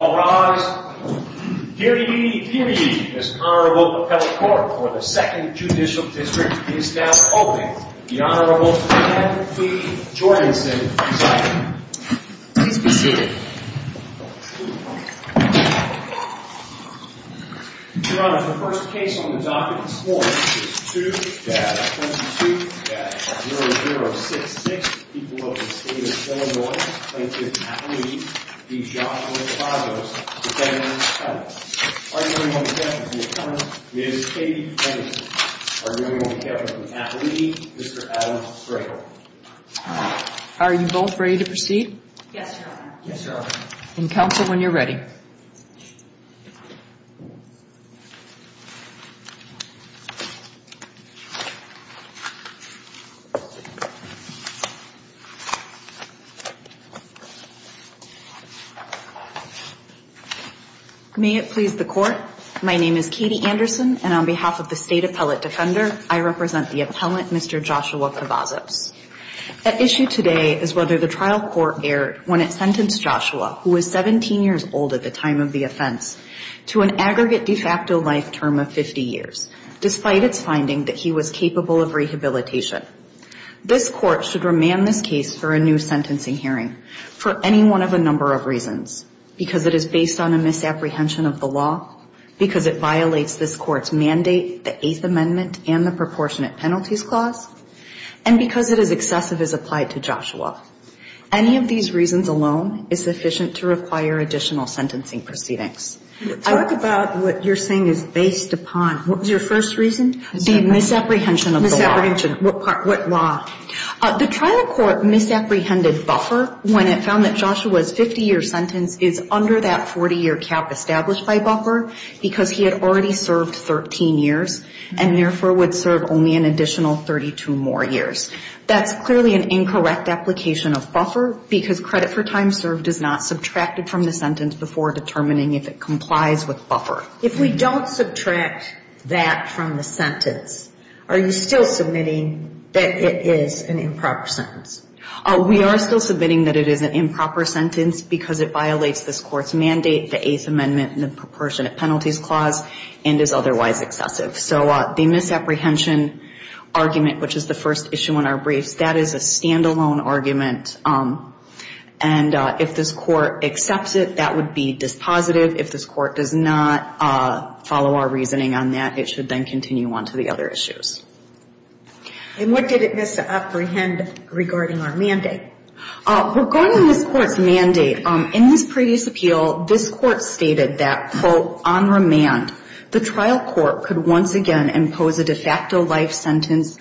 Arise, here ye, here ye, this Honorable Appellate Court for the 2nd Judicial District is now open. The Honorable Dan P. Jorgensen is silent. Your Honor, the first case on the docket this morning is 2-22-0066. The people of the state of Illinois plaintiff's appellate, D. Joshua Cavazos, defendant's counsel. Arguing on behalf of the attorney, Ms. Katie Henderson. Arguing on behalf of the appellate, Mr. Adam Strickland. Are you both ready to proceed? Yes, Your Honor. Yes, Your Honor. Then counsel when you're ready. May it please the court. My name is Katie Anderson and on behalf of the state appellate defender, I represent the appellant, Mr. Joshua Cavazos. At issue today is whether the trial court erred when it sentenced Joshua, who was 17 years old at the time of the offense, to an aggregate de facto life term of 50 years, despite its finding that he was capable of rehabilitation. This court should remand this case for a new sentencing hearing for any one of a number of reasons, because it is based on a misapprehension of the law, because it violates this court's mandate, the Eighth Amendment and the Proportionate Penalties Clause, and because it is excessive as applied to Joshua. Any of these reasons alone is sufficient to require additional sentencing proceedings. Talk about what you're saying is based upon. What was your first reason? The misapprehension of the law. Misapprehension. What law? The trial court misapprehended buffer when it found that Joshua's 50-year sentence is under that 40-year cap established by buffer, because he had already served 13 years and, therefore, would serve only an additional 32 more years. That's clearly an incorrect application of buffer, because credit for time served is not subtracted from the sentence before determining if it complies with buffer. If we don't subtract that from the sentence, are you still submitting that it is an improper sentence? We are still submitting that it is an improper sentence because it violates this court's mandate, the Eighth Amendment and the Proportionate Penalties Clause, and is otherwise excessive. So the misapprehension argument, which is the first issue on our briefs, that is a stand-alone argument. And if this court accepts it, that would be dispositive. If this court does not follow our reasoning on that, it should then continue on to the other issues. And what did it misapprehend regarding our mandate? Regarding this court's mandate, in this previous appeal, this court stated that, quote, the trial court could once again impose a de facto life sentence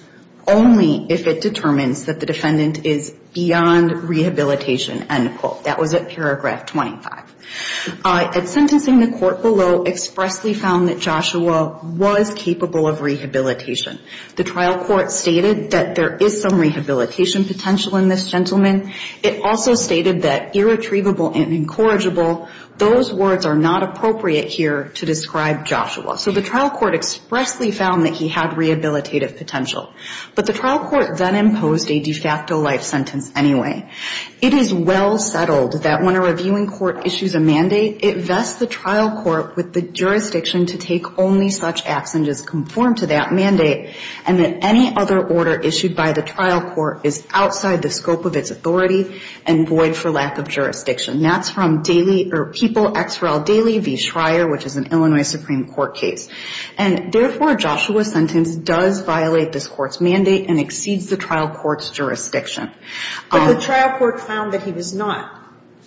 only if it determines that the defendant is beyond rehabilitation, end quote. That was at paragraph 25. At sentencing, the court below expressly found that Joshua was capable of rehabilitation. The trial court stated that there is some rehabilitation potential in this gentleman. It also stated that irretrievable and incorrigible, those words are not appropriate here to describe Joshua. So the trial court expressly found that he had rehabilitative potential. But the trial court then imposed a de facto life sentence anyway. It is well settled that when a reviewing court issues a mandate, it vests the trial court with the jurisdiction to take only such and void for lack of jurisdiction. And therefore, Joshua's sentence does violate this court's mandate and exceeds the trial court's jurisdiction. But the trial court found that he was not,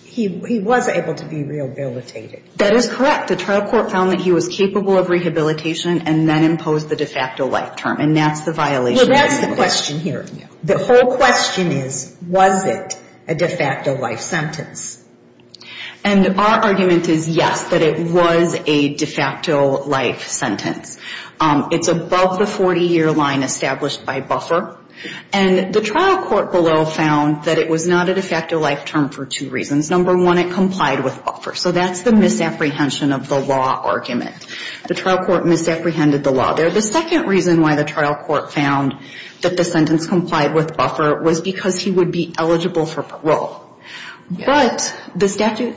he was able to be rehabilitated. That is correct. The trial court found that he was capable of rehabilitation and then imposed the de facto life term. And that's the violation. Well, that's the question here. The whole question is, was it a de facto life sentence? And our argument is yes, that it was a de facto life sentence. It's above the 40-year line established by buffer. And the trial court below found that it was not a de facto life term for two reasons. Number one, it complied with buffer. So that's the misapprehension of the law argument. The trial court misapprehended the law there. The second reason why the trial court found that the sentence complied with buffer was because he would be eligible for parole. But the statute,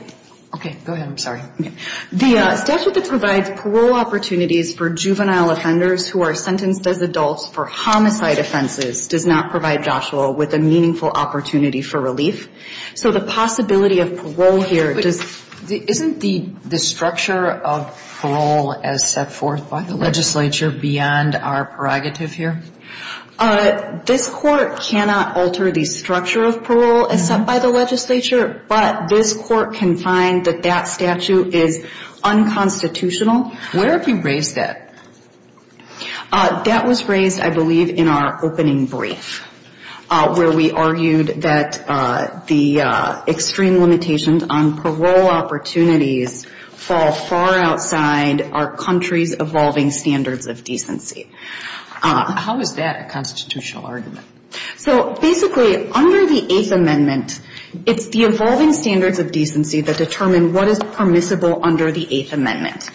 okay, go ahead, I'm sorry. The statute that provides parole opportunities for juvenile offenders who are sentenced as adults for homicide offenses does not provide Joshua with a meaningful opportunity for relief. So the possibility of parole here does, isn't the structure of parole as set forth by the legislature beyond our prerogative here? This court cannot alter the structure of parole as set by the legislature, but this court can find that that statute is unconstitutional. Where have you raised that? That was raised, I believe, in our opening brief, where we argued that the extreme limitations on parole opportunities fall far outside our country's evolving standards of decency. How is that a constitutional argument? So basically, under the Eighth Amendment, it's the evolving standards of decency that determine what is permissible under the Eighth Amendment.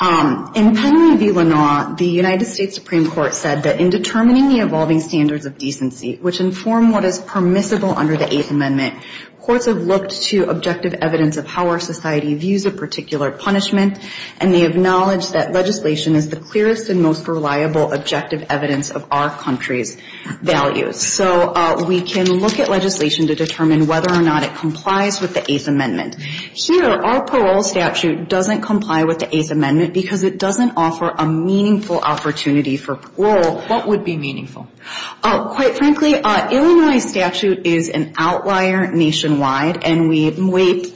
In Penley v. Lanau, the United States Supreme Court said that in determining the evolving standards of decency, which inform what is permissible under the Eighth Amendment, courts have looked to objective evidence of how our society views a particular punishment, and they acknowledge that legislation is the clearest and most reliable objective evidence of our country's values. So we can look at legislation to determine whether or not it complies with the Eighth Amendment. Here, our parole statute doesn't comply with the Eighth Amendment because it doesn't offer a meaningful opportunity for parole. What would be meaningful? Quite frankly, Illinois' statute is an outlier nationwide, and we wait.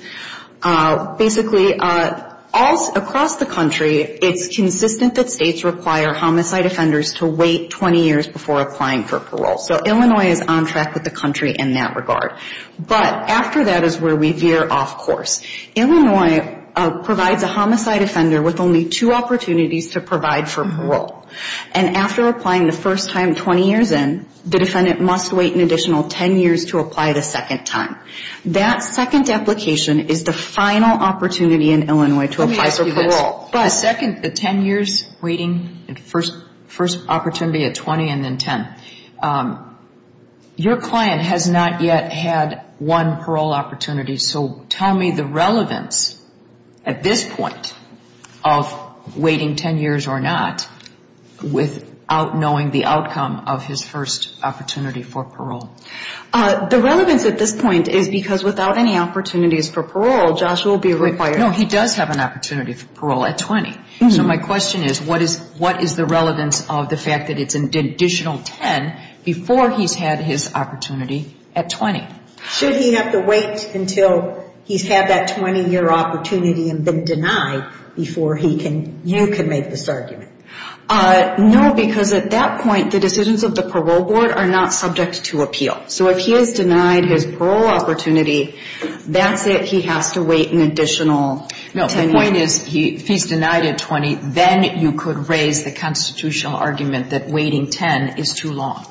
Basically, across the country, it's consistent that states require homicide offenders to wait 20 years before applying for parole. So Illinois is on track with the country in that regard. But after that is where we veer off course. Illinois provides a homicide offender with only two opportunities to provide for parole. And after applying the first time 20 years in, the defendant must wait an additional 10 years to apply the second time. That second application is the final opportunity in Illinois to apply for parole. The second, the 10 years waiting, first opportunity at 20 and then 10. Your client has not yet had one parole opportunity. So tell me the relevance at this point of waiting 10 years or not without knowing the outcome of his first opportunity for parole. The relevance at this point is because without any opportunities for parole, Joshua will be required. No, he does have an opportunity for parole at 20. So my question is, what is the relevance of the fact that it's an additional 10 before he's had his opportunity at 20? Should he have to wait until he's had that 20-year opportunity and been denied before you can make this argument? No, because at that point, the decisions of the parole board are not subject to appeal. So if he is denied his parole opportunity, that's it. He has to wait an additional 10 years. No, the point is if he's denied at 20, then you could raise the constitutional argument that waiting 10 is too long.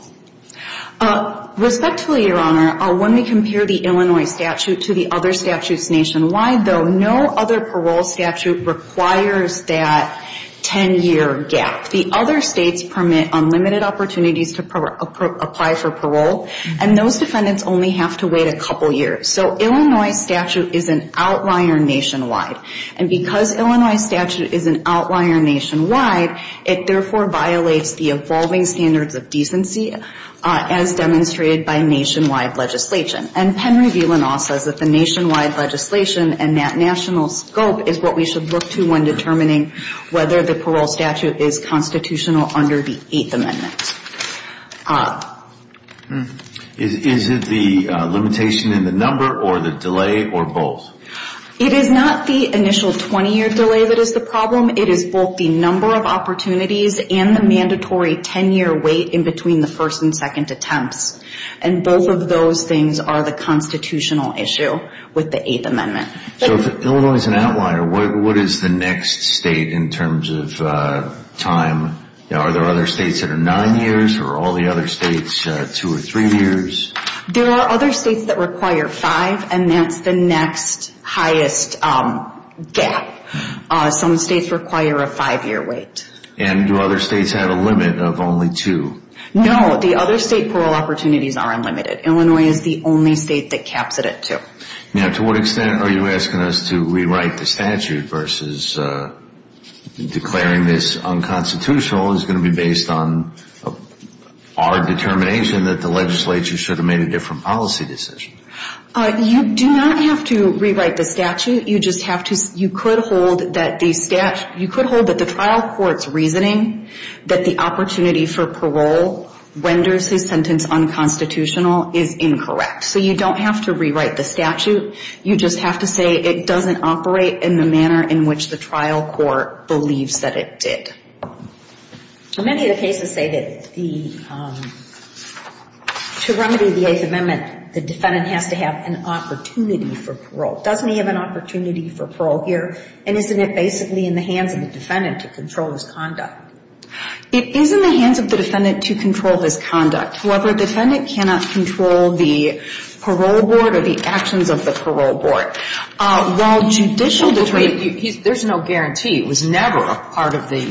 Respectfully, Your Honor, when we compare the Illinois statute to the other statutes nationwide, though, no other parole statute requires that 10-year gap. The other states permit unlimited opportunities to apply for parole, and those defendants only have to wait a couple years. So Illinois statute is an outlier nationwide. And because Illinois statute is an outlier nationwide, it therefore violates the evolving standards of decency as demonstrated by nationwide legislation. And Penry-Villanoff says that the nationwide legislation and that national scope is what we should look to when determining whether the parole statute is constitutional under the Eighth Amendment. Is it the limitation in the number or the delay or both? It is not the initial 20-year delay that is the problem. It is both the number of opportunities and the mandatory 10-year wait in between the first and second attempts. And both of those things are the constitutional issue with the Eighth Amendment. So if Illinois is an outlier, what is the next state in terms of time? Are there other states that are 9 years or are all the other states 2 or 3 years? There are other states that require 5, and that's the next highest gap. Some states require a 5-year wait. And do other states have a limit of only 2? No, the other state parole opportunities are unlimited. Illinois is the only state that caps it at 2. Now, to what extent are you asking us to rewrite the statute versus declaring this unconstitutional is going to be based on our determination that the legislature should have made a different policy decision? You do not have to rewrite the statute. You could hold that the trial court's reasoning that the opportunity for parole renders his sentence unconstitutional is incorrect. So you don't have to rewrite the statute. You just have to say it doesn't operate in the manner in which the trial court believes that it did. Many of the cases say that to remedy the Eighth Amendment, the defendant has to have an opportunity for parole. Doesn't he have an opportunity for parole here? And isn't it basically in the hands of the defendant to control his conduct? It is in the hands of the defendant to control his conduct. However, a defendant cannot control the parole board or the actions of the parole board. While judicial detraint, there's no guarantee. It was never a part of the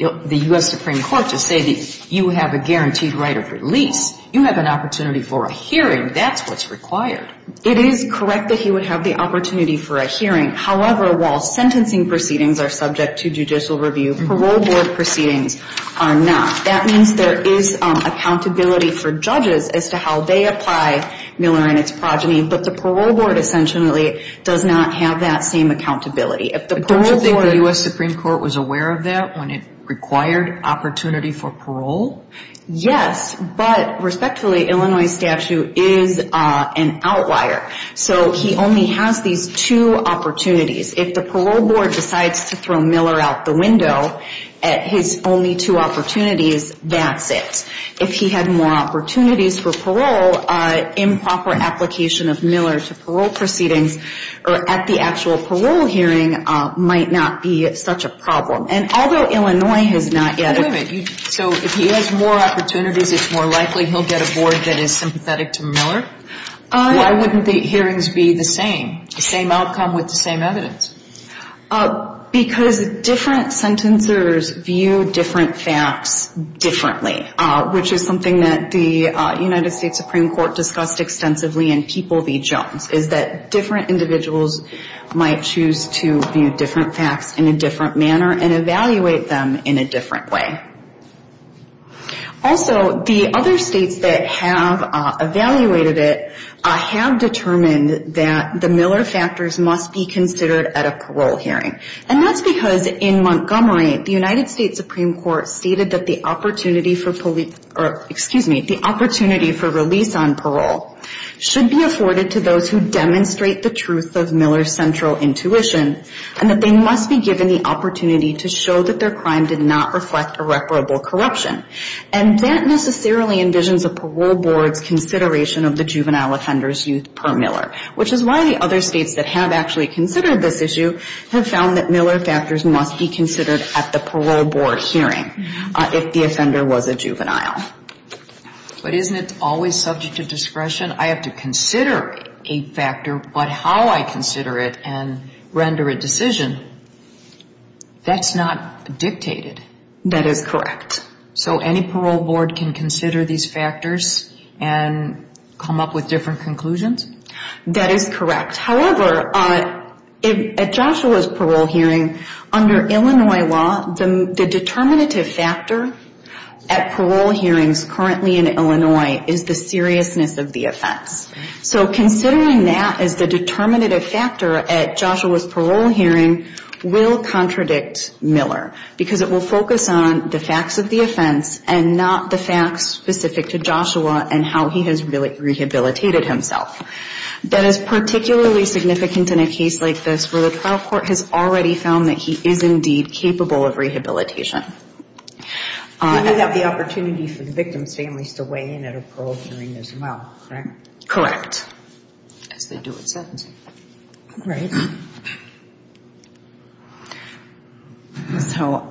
U.S. Supreme Court to say that you have a guaranteed right of release. You have an opportunity for a hearing. That's what's required. It is correct that he would have the opportunity for a hearing. However, while sentencing proceedings are subject to judicial review, parole board proceedings are not. That means there is accountability for judges as to how they apply Miller and its progeny, but the parole board essentially does not have that same accountability. If the parole board — Don't you think the U.S. Supreme Court was aware of that when it required opportunity for parole? Yes, but respectfully, Illinois statute is an outlier. So he only has these two opportunities. If the parole board decides to throw Miller out the window at his only two opportunities, that's it. If he had more opportunities for parole, improper application of Miller to parole proceedings or at the actual parole hearing might not be such a problem. And although Illinois has not yet — So if he has more opportunities, it's more likely he'll get a board that is sympathetic to Miller? Why wouldn't the hearings be the same, the same outcome with the same evidence? Because different sentencers view different facts differently, which is something that the United States Supreme Court discussed extensively in People v. Jones, is that different individuals might choose to view different facts in a different manner and evaluate them in a different way. Also, the other states that have evaluated it have determined that the Miller factors must be considered at a parole hearing. And that's because in Montgomery, the United States Supreme Court stated that the opportunity for police — or, excuse me, the opportunity for release on parole should be afforded to those who demonstrate the truth of Miller's central intuition and that they must be given the opportunity to show that their crime did not reflect irreparable corruption. And that necessarily envisions a parole board's consideration of the juvenile offender's youth per Miller, which is why the other states that have actually considered this issue have found that Miller factors must be considered at the parole board hearing if the offender was a juvenile. But isn't it always subject to discretion? I have to consider a factor, but how I consider it and render a decision, that's not dictated. That is correct. So any parole board can consider these factors and come up with different conclusions? That is correct. However, at Joshua's parole hearing, under Illinois law, the determinative factor at parole hearings currently in Illinois is the seriousness of the offense. So considering that as the determinative factor at Joshua's parole hearing will contradict Miller because it will focus on the facts of the offense and not the facts specific to Joshua and how he has rehabilitated himself. That is particularly significant in a case like this where the trial court has already found that he is indeed capable of rehabilitation. He may have the opportunity for the victim's families to weigh in at a parole hearing as well, correct? Correct. As they do in sentencing. Right. So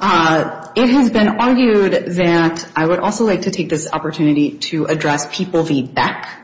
it has been argued that I would also like to take this opportunity to address People v. Beck.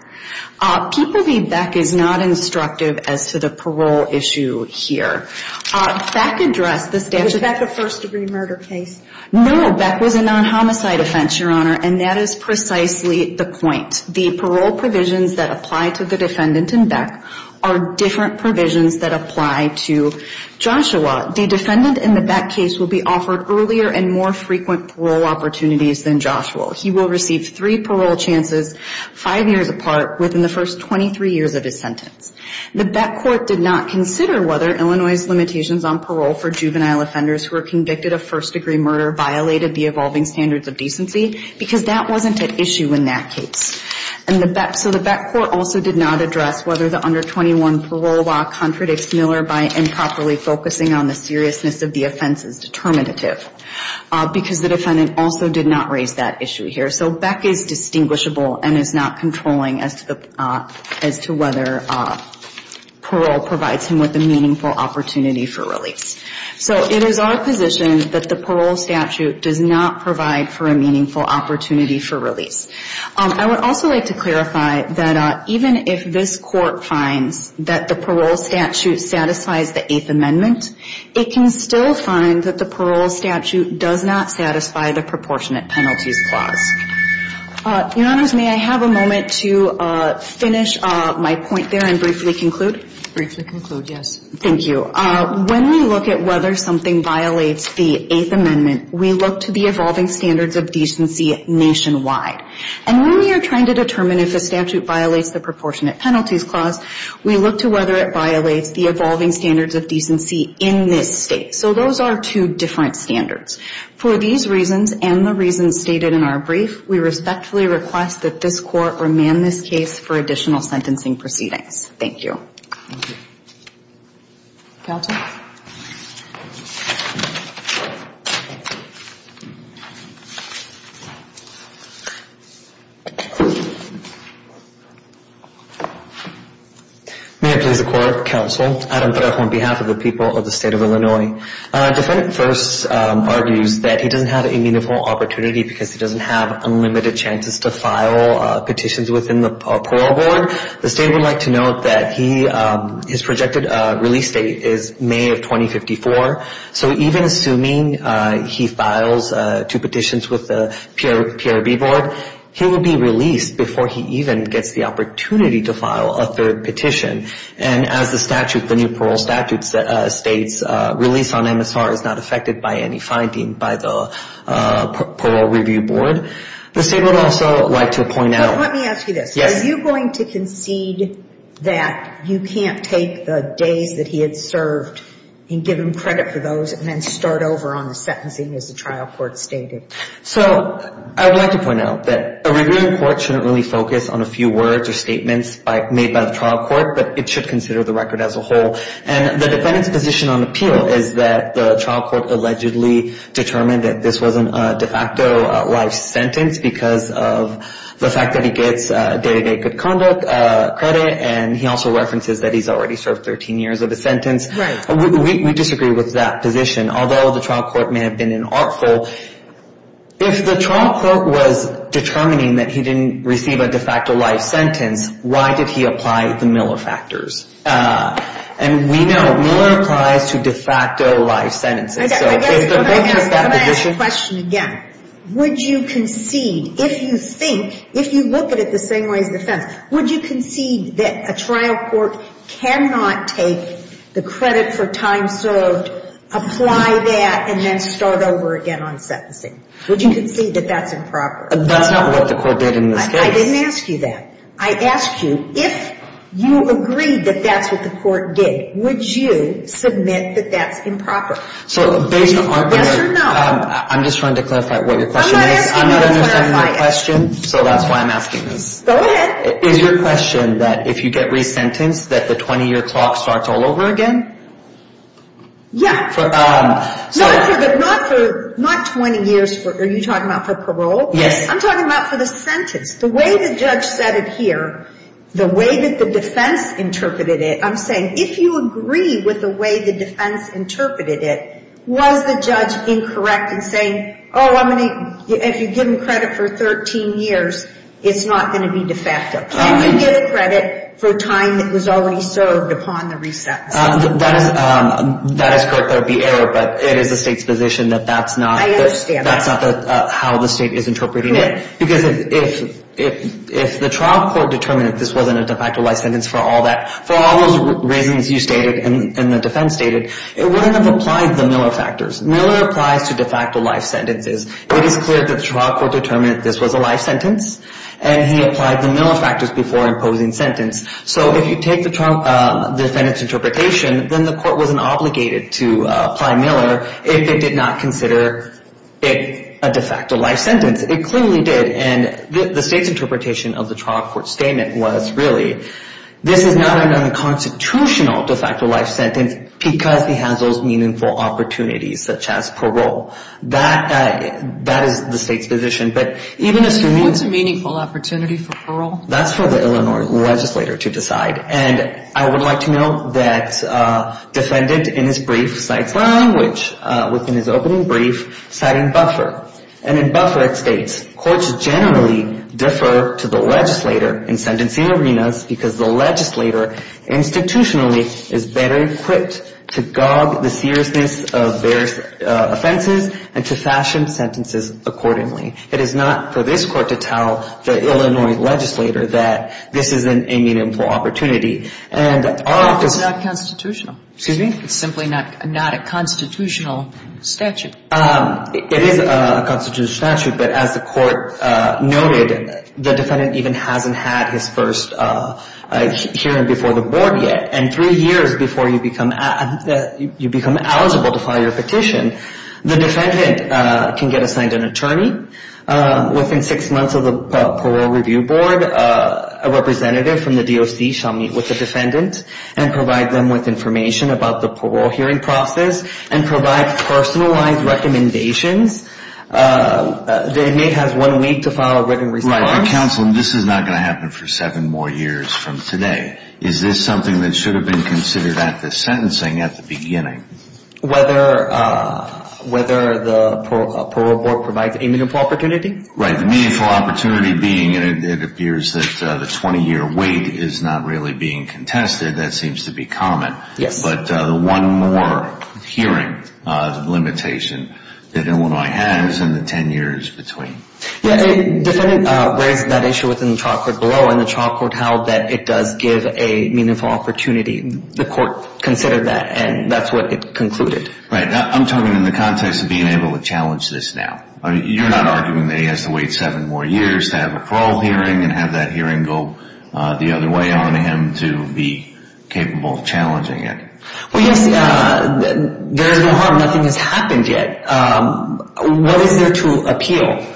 People v. Beck is not instructive as to the parole issue here. Beck addressed the statute. Was Beck a first-degree murder case? No, Beck was a non-homicide offense, Your Honor, and that is precisely the point. The parole provisions that apply to the defendant in Beck are different provisions that apply to Joshua. The defendant in the Beck case will be offered earlier and more frequent parole opportunities than Joshua. He will receive three parole chances, five years apart, within the first 23 years of his sentence. The Beck court did not consider whether Illinois' limitations on parole for juvenile offenders who were convicted of first-degree murder violated the evolving standards of decency, because that wasn't an issue in that case. So the Beck court also did not address whether the under-21 parole law contradicts Miller by improperly focusing on the seriousness of the offense as determinative, because the defendant also did not raise that issue here. So Beck is distinguishable and is not controlling as to whether parole provides him with a meaningful opportunity for release. So it is our position that the parole statute does not provide for a meaningful opportunity for release. I would also like to clarify that even if this court finds that the parole statute satisfies the Eighth Amendment, it can still find that the parole statute does not satisfy the Proportionate Penalties Clause. Your Honors, may I have a moment to finish my point there and briefly conclude? Briefly conclude, yes. Thank you. When we look at whether something violates the Eighth Amendment, we look to the evolving standards of decency nationwide. And when we are trying to determine if a statute violates the Proportionate Penalties Clause, we look to whether it violates the evolving standards of decency in this state. So those are two different standards. For these reasons and the reasons stated in our brief, we respectfully request that this court remand this case for additional sentencing proceedings. Thank you. Thank you. Calton. May it please the Court, Counsel, Adam Peref on behalf of the people of the State of Illinois. Defendant first argues that he doesn't have a meaningful opportunity because he doesn't have unlimited chances to file petitions within the Parole Board. The State would like to note that his projected release date is May of 2054. So even assuming he files two petitions with the PRB Board, he will be released before he even gets the opportunity to file a third petition. And as the statute, the new parole statute states, release on MSR is not affected by any finding by the Parole Review Board. The State would also like to point out. Let me ask you this. Are you going to concede that you can't take the days that he had served and give him credit for those and then start over on the sentencing as the trial court stated? So I would like to point out that a reviewing court shouldn't really focus on a few words or statements made by the trial court, but it should consider the record as a whole. And the defendant's position on appeal is that the trial court allegedly determined that this wasn't a de facto life sentence because of the fact that he gets day-to-day good conduct credit and he also references that he's already served 13 years of his sentence. We disagree with that position. Although the trial court may have been an artful, if the trial court was determining that he didn't receive a de facto life sentence, why did he apply the Miller factors? And we know Miller applies to de facto life sentences. I guess I'm going to ask the question again. Would you concede, if you think, if you look at it the same way as the defense, would you concede that a trial court cannot take the credit for time served, apply that, and then start over again on sentencing? Would you concede that that's improper? That's not what the court did in this case. I didn't ask you that. I asked you if you agreed that that's what the court did, would you submit that that's improper? Yes or no. I'm just trying to clarify what your question is. I'm not asking you to clarify it. I'm not understanding your question, so that's why I'm asking this. Go ahead. Is your question that if you get resentenced that the 20-year clock starts all over again? Yeah. Not 20 years. Are you talking about for parole? Yes. I'm talking about for the sentence. The way the judge said it here, the way that the defense interpreted it, I'm saying if you agree with the way the defense interpreted it, was the judge incorrect in saying, oh, if you've given credit for 13 years, it's not going to be de facto? Can you give credit for time that was already served upon the resentencing? That is correct. That would be error, but it is the state's position that that's not how the state is interpreting it. Because if the trial court determined that this wasn't a de facto life sentence for all that, for all those reasons you stated and the defense stated, it wouldn't have applied the Miller factors. Miller applies to de facto life sentences. It is clear that the trial court determined that this was a life sentence, and he applied the Miller factors before imposing sentence. So if you take the defendant's interpretation, then the court wasn't obligated to apply Miller if it did not consider it a de facto life sentence. It clearly did, and the state's interpretation of the trial court's statement was really, this is not an unconstitutional de facto life sentence because he has those meaningful opportunities, such as parole. That is the state's position. What's a meaningful opportunity for parole? That's for the Illinois legislator to decide, and I would like to note that the defendant in his brief cites language within his opening brief, citing buffer, and in buffer it states, courts generally defer to the legislator in sentencing arenas because the legislator institutionally is better equipped to gog the seriousness of their offenses and to fashion sentences accordingly. It is not for this court to tell the Illinois legislator that this isn't a meaningful opportunity. And our office — It's not constitutional. Excuse me? It's simply not a constitutional statute. It is a constitutional statute, but as the court noted, the defendant even hasn't had his first hearing before the board yet, and three years before you become eligible to file your petition, the defendant can get assigned an attorney. Within six months of the parole review board, a representative from the DOC shall meet with the defendant and provide them with information about the parole hearing process and provide personalized recommendations. The inmate has one week to file a written response. Counsel, this is not going to happen for seven more years from today. Is this something that should have been considered at the sentencing at the beginning? Whether the parole board provides a meaningful opportunity? Right. The meaningful opportunity being it appears that the 20-year wait is not really being contested. That seems to be common. Yes. But one more hearing limitation that Illinois has in the 10 years between. Yes. The defendant raised that issue within the trial court below, and the trial court held that it does give a meaningful opportunity. The court considered that, and that's what it concluded. Right. I'm talking in the context of being able to challenge this now. You're not arguing that he has to wait seven more years to have a parole hearing and have that hearing go the other way on him to be capable of challenging it. Well, yes, there is no harm. Nothing has happened yet. What is there to appeal?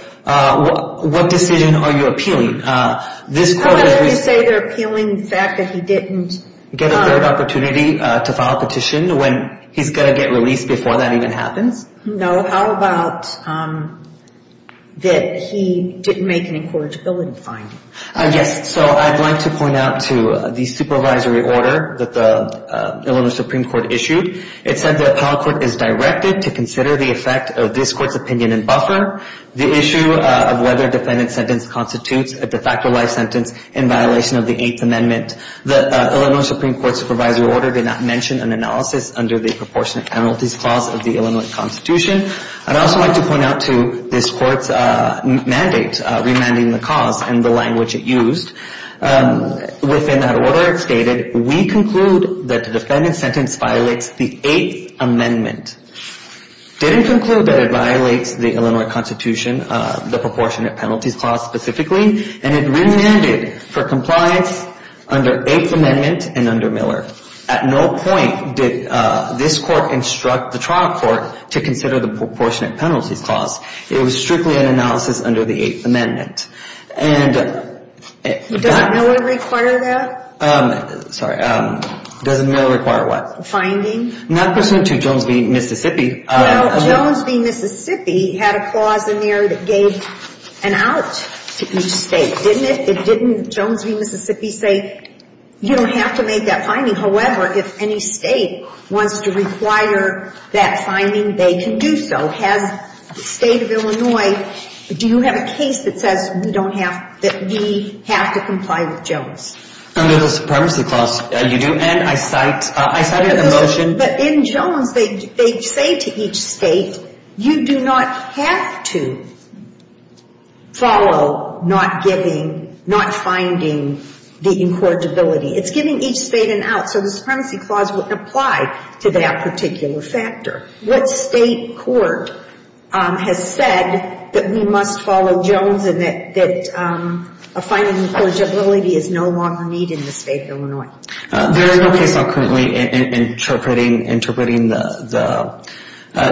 What decision are you appealing? How about if you say they're appealing the fact that he didn't get a third opportunity to file a petition when he's going to get released before that even happens? No. How about that he didn't make an incorrigibility finding? Yes. So I'd like to point out to the supervisory order that the Illinois Supreme Court issued. It said the appellate court is directed to consider the effect of this court's opinion and buffer. The issue of whether a defendant's sentence constitutes a de facto life sentence in violation of the Eighth Amendment. The Illinois Supreme Court supervisory order did not mention an analysis under the Proportionate Penalties Clause of the Illinois Constitution. I'd also like to point out to this court's mandate remanding the cause and the language it used. Within that order it stated, we conclude that the defendant's sentence violates the Eighth Amendment. Didn't conclude that it violates the Illinois Constitution, the Proportionate Penalties Clause specifically, and it remanded for compliance under Eighth Amendment and under Miller. At no point did this court instruct the trial court to consider the Proportionate Penalties Clause. It was strictly an analysis under the Eighth Amendment. Doesn't Miller require that? Sorry, doesn't Miller require what? Finding? Not pursuant to Jones v. Mississippi. No, Jones v. Mississippi had a clause in there that gave an out to each state, didn't it? Didn't Jones v. Mississippi say, you don't have to make that finding? However, if any state wants to require that finding, they can do so. Has the state of Illinois, do you have a case that says we don't have, that we have to comply with Jones? Under the Supremacy Clause, you do, and I cite, I cite it in the motion. But in Jones, they say to each state, you do not have to follow not giving, not finding the incorrigibility. It's giving each state an out. So the Supremacy Clause wouldn't apply to that particular factor. What state court has said that we must follow Jones and that a finding of incorrigibility is no longer needed in the state of Illinois? There is no case law currently interpreting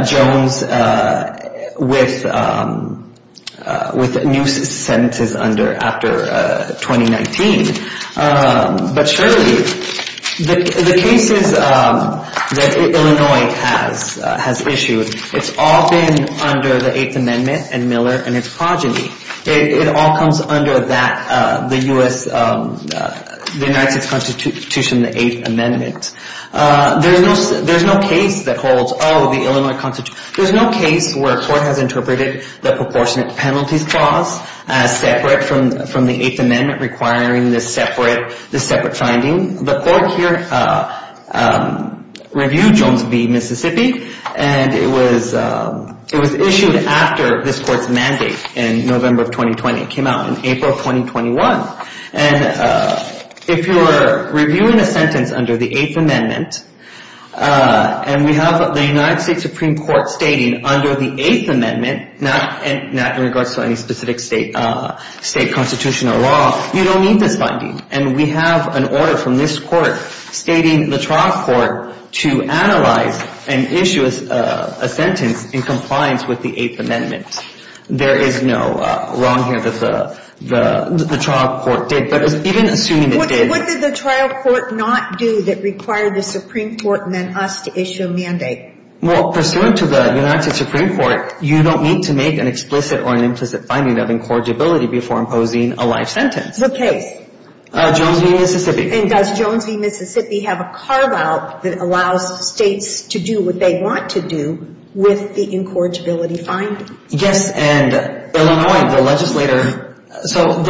Jones with new sentences under after 2019. But surely, the cases that Illinois has issued, it's all been under the Eighth Amendment and Miller and its progeny. It all comes under that, the U.S., the United States Constitution, the Eighth Amendment. There's no case that holds, oh, the Illinois Constitution. There's no case where a court has interpreted the Proportionate Penalties Clause as separate from the Eighth Amendment requiring this separate finding. The court here reviewed Jones v. Mississippi, and it was issued after this court's mandate in November of 2020. It came out in April of 2021. And if you're reviewing a sentence under the Eighth Amendment, and we have the United States Supreme Court stating under the Eighth Amendment, not in regards to any specific state constitution or law, you don't need this finding. And we have an order from this court stating the trial court to analyze and issue a sentence in compliance with the Eighth Amendment. There is no wrong here that the trial court did. But even assuming it did. What did the trial court not do that required the Supreme Court and then us to issue a mandate? Well, pursuant to the United States Supreme Court, you don't need to make an explicit or an implicit finding of incorrigibility before imposing a life sentence. What case? Jones v. Mississippi. And does Jones v. Mississippi have a carve-out that allows states to do what they want to do with the incorrigibility findings? Yes, and Illinois, the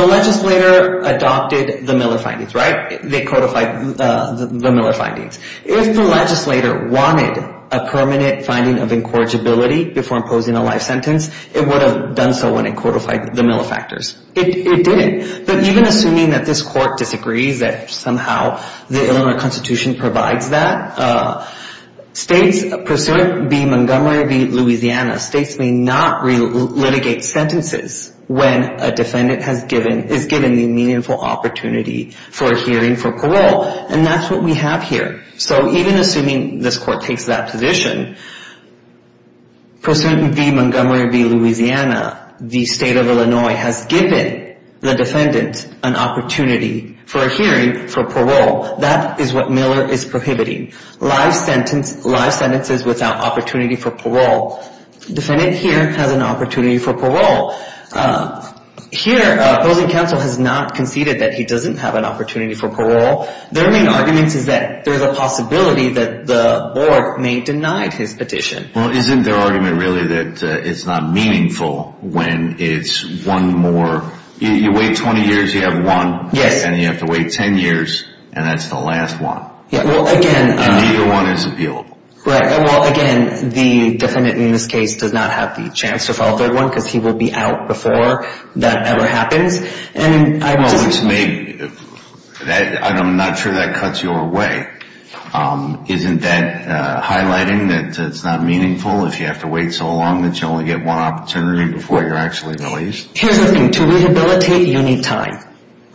legislator adopted the Miller findings, right? They codified the Miller findings. If the legislator wanted a permanent finding of incorrigibility before imposing a life sentence, it would have done so when it codified the Miller factors. It didn't. But even assuming that this court disagrees that somehow the Illinois Constitution provides that, states, pursuant v. Montgomery v. Louisiana, states may not litigate sentences when a defendant is given the meaningful opportunity for hearing for parole. And that's what we have here. So even assuming this court takes that position, pursuant v. Montgomery v. Louisiana, the state of Illinois has given the defendant an opportunity for a hearing for parole. That is what Miller is prohibiting, life sentences without opportunity for parole. The defendant here has an opportunity for parole. Here, opposing counsel has not conceded that he doesn't have an opportunity for parole. Their main argument is that there's a possibility that the board may deny his petition. Well, isn't their argument really that it's not meaningful when it's one more? You wait 20 years, you have one. Yes. And you have to wait 10 years, and that's the last one. Well, again. And neither one is appealable. Right. Well, again, the defendant in this case does not have the chance to file a third one because he will be out before that ever happens. Well, I'm not sure that cuts your way. Isn't that highlighting that it's not meaningful if you have to wait so long that you only get one opportunity before you're actually released? Here's the thing. To rehabilitate, you need time.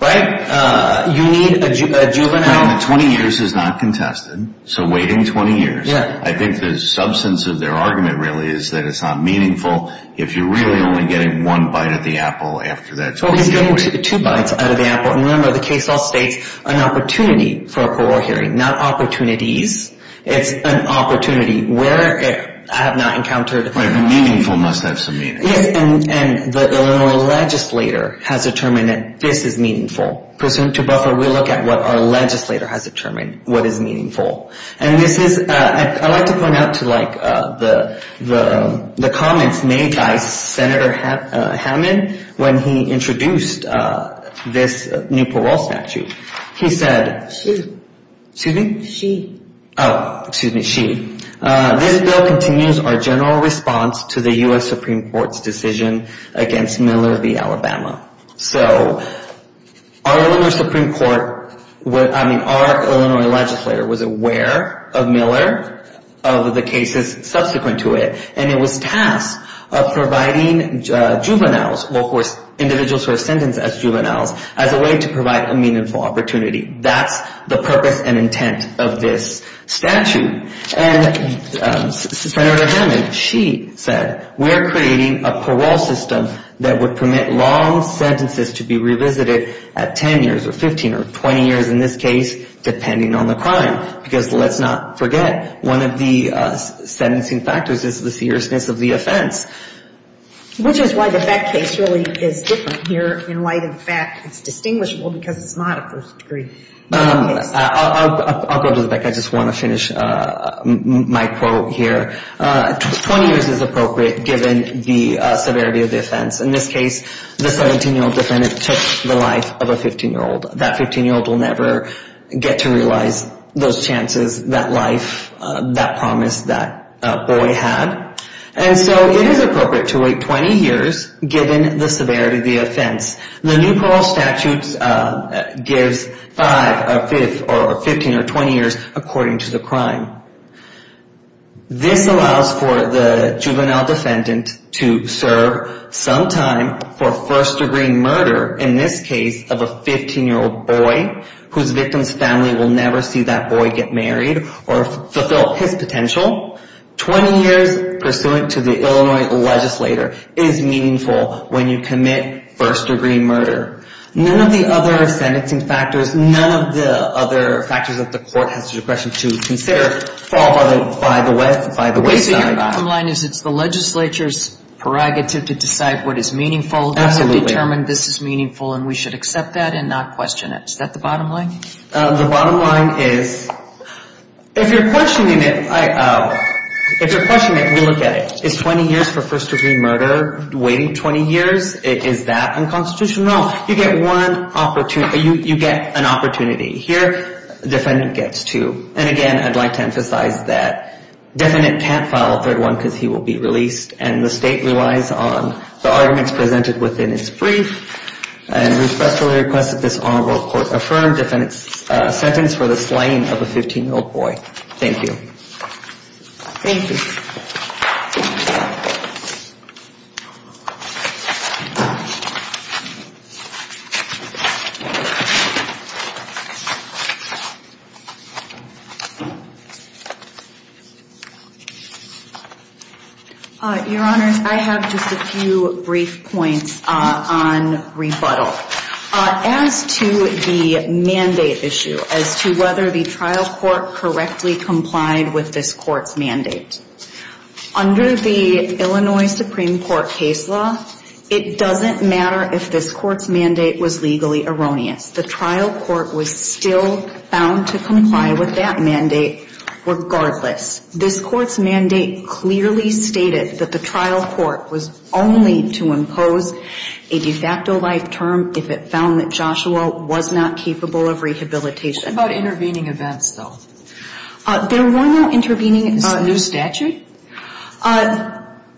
Right? You need a juvenile. Well, 20 years is not contested, so waiting 20 years. Yeah. I think the substance of their argument really is that it's not meaningful if you're really only getting one bite of the apple after that 20 years. Well, he's getting two bites out of the apple. And remember, the case also states an opportunity for a parole hearing, not opportunities. It's an opportunity where I have not encountered. Right. Meaningful must have some meaning. Yes. And the legislator has determined that this is meaningful. To buffer, we look at what our legislator has determined what is meaningful. And this is, I like to point out to like the comments made by Senator Hammond when he introduced this new parole statute. He said. She. Excuse me? She. Oh, excuse me. She. This bill continues our general response to the U.S. Supreme Court's decision against Miller v. Alabama. So our Supreme Court, I mean, our Illinois legislator was aware of Miller, of the cases subsequent to it. And it was tasked of providing juveniles, individuals who are sentenced as juveniles, as a way to provide a meaningful opportunity. That's the purpose and intent of this statute. And Senator Hammond, she said. We're creating a parole system that would permit long sentences to be revisited at 10 years or 15 or 20 years, in this case, depending on the crime. Because let's not forget, one of the sentencing factors is the seriousness of the offense. Which is why the fact case really is different here in light of the fact it's distinguishable because it's not a first degree case. I'll go to the back. I just want to finish my quote here. 20 years is appropriate, given the severity of the offense. In this case, the 17-year-old defendant took the life of a 15-year-old. That 15-year-old will never get to realize those chances, that life, that promise that boy had. And so it is appropriate to wait 20 years, given the severity of the offense. The new parole statute gives 5 or 15 or 20 years, according to the crime. This allows for the juvenile defendant to serve some time for first degree murder, in this case, of a 15-year-old boy. Whose victim's family will never see that boy get married or fulfill his potential. 20 years pursuant to the Illinois legislator is meaningful when you commit first degree murder. None of the other sentencing factors, none of the other factors that the court has discretion to consider, fall by the wayside. So your bottom line is it's the legislature's prerogative to decide what is meaningful. Absolutely. We have determined this is meaningful and we should accept that and not question it. Is that the bottom line? The bottom line is, if you're questioning it, we look at it. Is 20 years for first degree murder, waiting 20 years? Is that unconstitutional? You get one opportunity, you get an opportunity. Here, the defendant gets two. And again, I'd like to emphasize that the defendant can't file a third one because he will be released. And the state relies on the arguments presented within its brief. And we respectfully request that this honorable court affirm defendant's sentence for the slaying of a 15-year-old boy. Thank you. Thank you. Your Honor, I have just a few brief points on rebuttal. As to the mandate issue, as to whether the trial court correctly complied with this court's mandate, under the Illinois Supreme Court case law, it doesn't matter if this court's mandate was legally erroneous. The trial court was still bound to comply with that mandate regardless. This court's mandate clearly stated that the trial court was only to impose a de facto life term if it found that Joshua was not capable of rehabilitation. What about intervening events, though? There were no intervening events. Is this a new statute?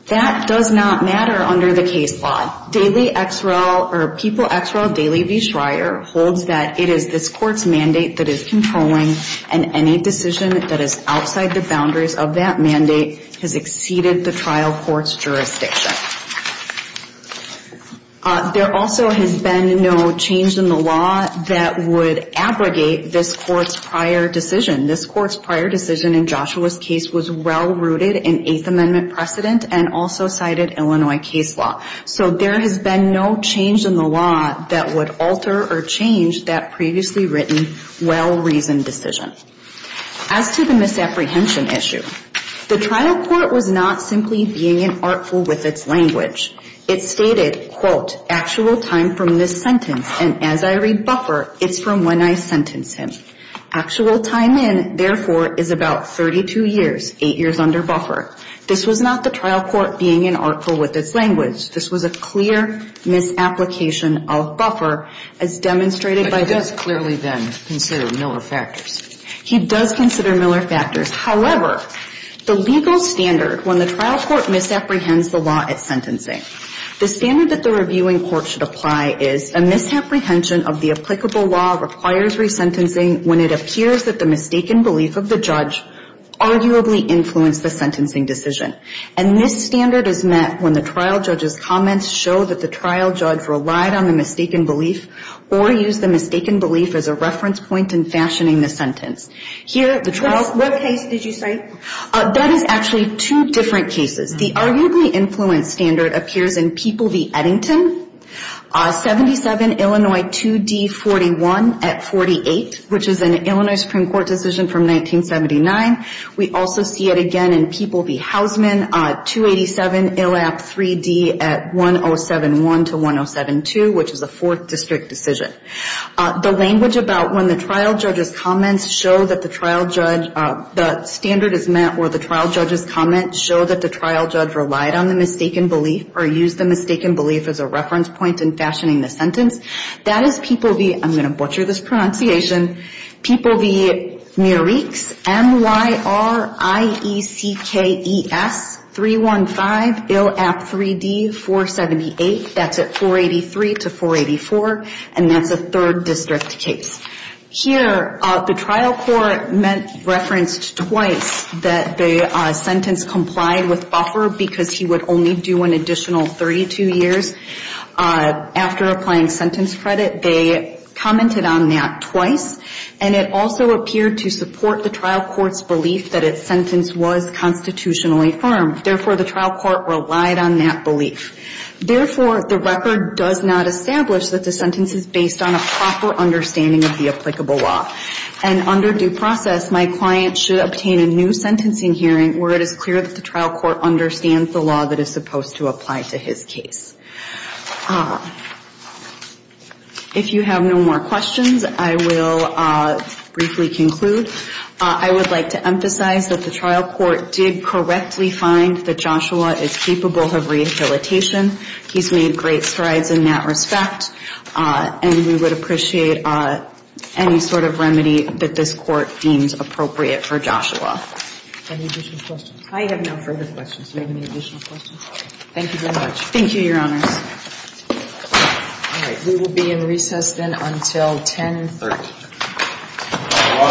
That does not matter under the case law. Daily XREL or People XREL Daily v. Schreier holds that it is this court's mandate that is controlling and any decision that is outside the boundaries of that mandate has exceeded the trial court's jurisdiction. There also has been no change in the law that would abrogate this court's prior decision. This court's prior decision in Joshua's case was well-rooted in Eighth Amendment precedent and also cited Illinois case law. So there has been no change in the law that would alter or change that previously written, well-reasoned decision. As to the misapprehension issue, the trial court was not simply being an artful with its language. It stated, quote, actual time from this sentence, and as I read buffer, it's from when I sentenced him. Actual time in, therefore, is about 32 years, eight years under buffer. This was not the trial court being an artful with its language. This was a clear misapplication of buffer as demonstrated by this. But he does clearly, then, consider Miller factors. He does consider Miller factors. However, the legal standard when the trial court misapprehends the law at sentencing, the standard that the reviewing court should apply is a misapprehension of the applicable law requires resentencing when it appears that the mistaken belief of the judge arguably influenced the sentencing decision. And this standard is met when the trial judge's comments show that the trial judge relied on the mistaken belief or used the mistaken belief as a reference point in fashioning the sentence. Here, the trial court. What case did you say? That is actually two different cases. The arguably influenced standard appears in People v. Eddington, 77 Illinois 2D41 at 48, which is an Illinois Supreme Court decision from 1979. We also see it again in People v. Housman, 287 Illap 3D at 1071 to 1072, which is a fourth district decision. The language about when the trial judge's comments show that the trial judge, the standard is met where the trial judge's comments show that the trial judge relied on the mistaken belief or used the mistaken belief as a reference point in fashioning the sentence. That is People v., I'm going to butcher this pronunciation, People v. Mireks, M-Y-R-I-E-C-K-E-S, 315 Illap 3D, 478, that's at 483 to 484, and that's a third district case. Here, the trial court referenced twice that the sentence complied with buffer because he would only do an additional 32 years after applying sentence credit. They commented on that twice, and it also appeared to support the trial court's belief that its sentence was constitutionally firm. Therefore, the trial court relied on that belief. Therefore, the record does not establish that the sentence is based on a proper understanding of the applicable law. And under due process, my client should obtain a new sentencing hearing where it is clear that the trial court understands the law that is supposed to apply to his case. If you have no more questions, I will briefly conclude. I would like to emphasize that the trial court did correctly find that Joshua is capable of rehabilitation. He's made great strides in that respect, and we would appreciate any sort of remedy that this court deems appropriate for Joshua. Any additional questions? I have no further questions. Do you have any additional questions? Thank you very much. Thank you, Your Honors. All right. We will be in recess then until 10 and 1 3rd.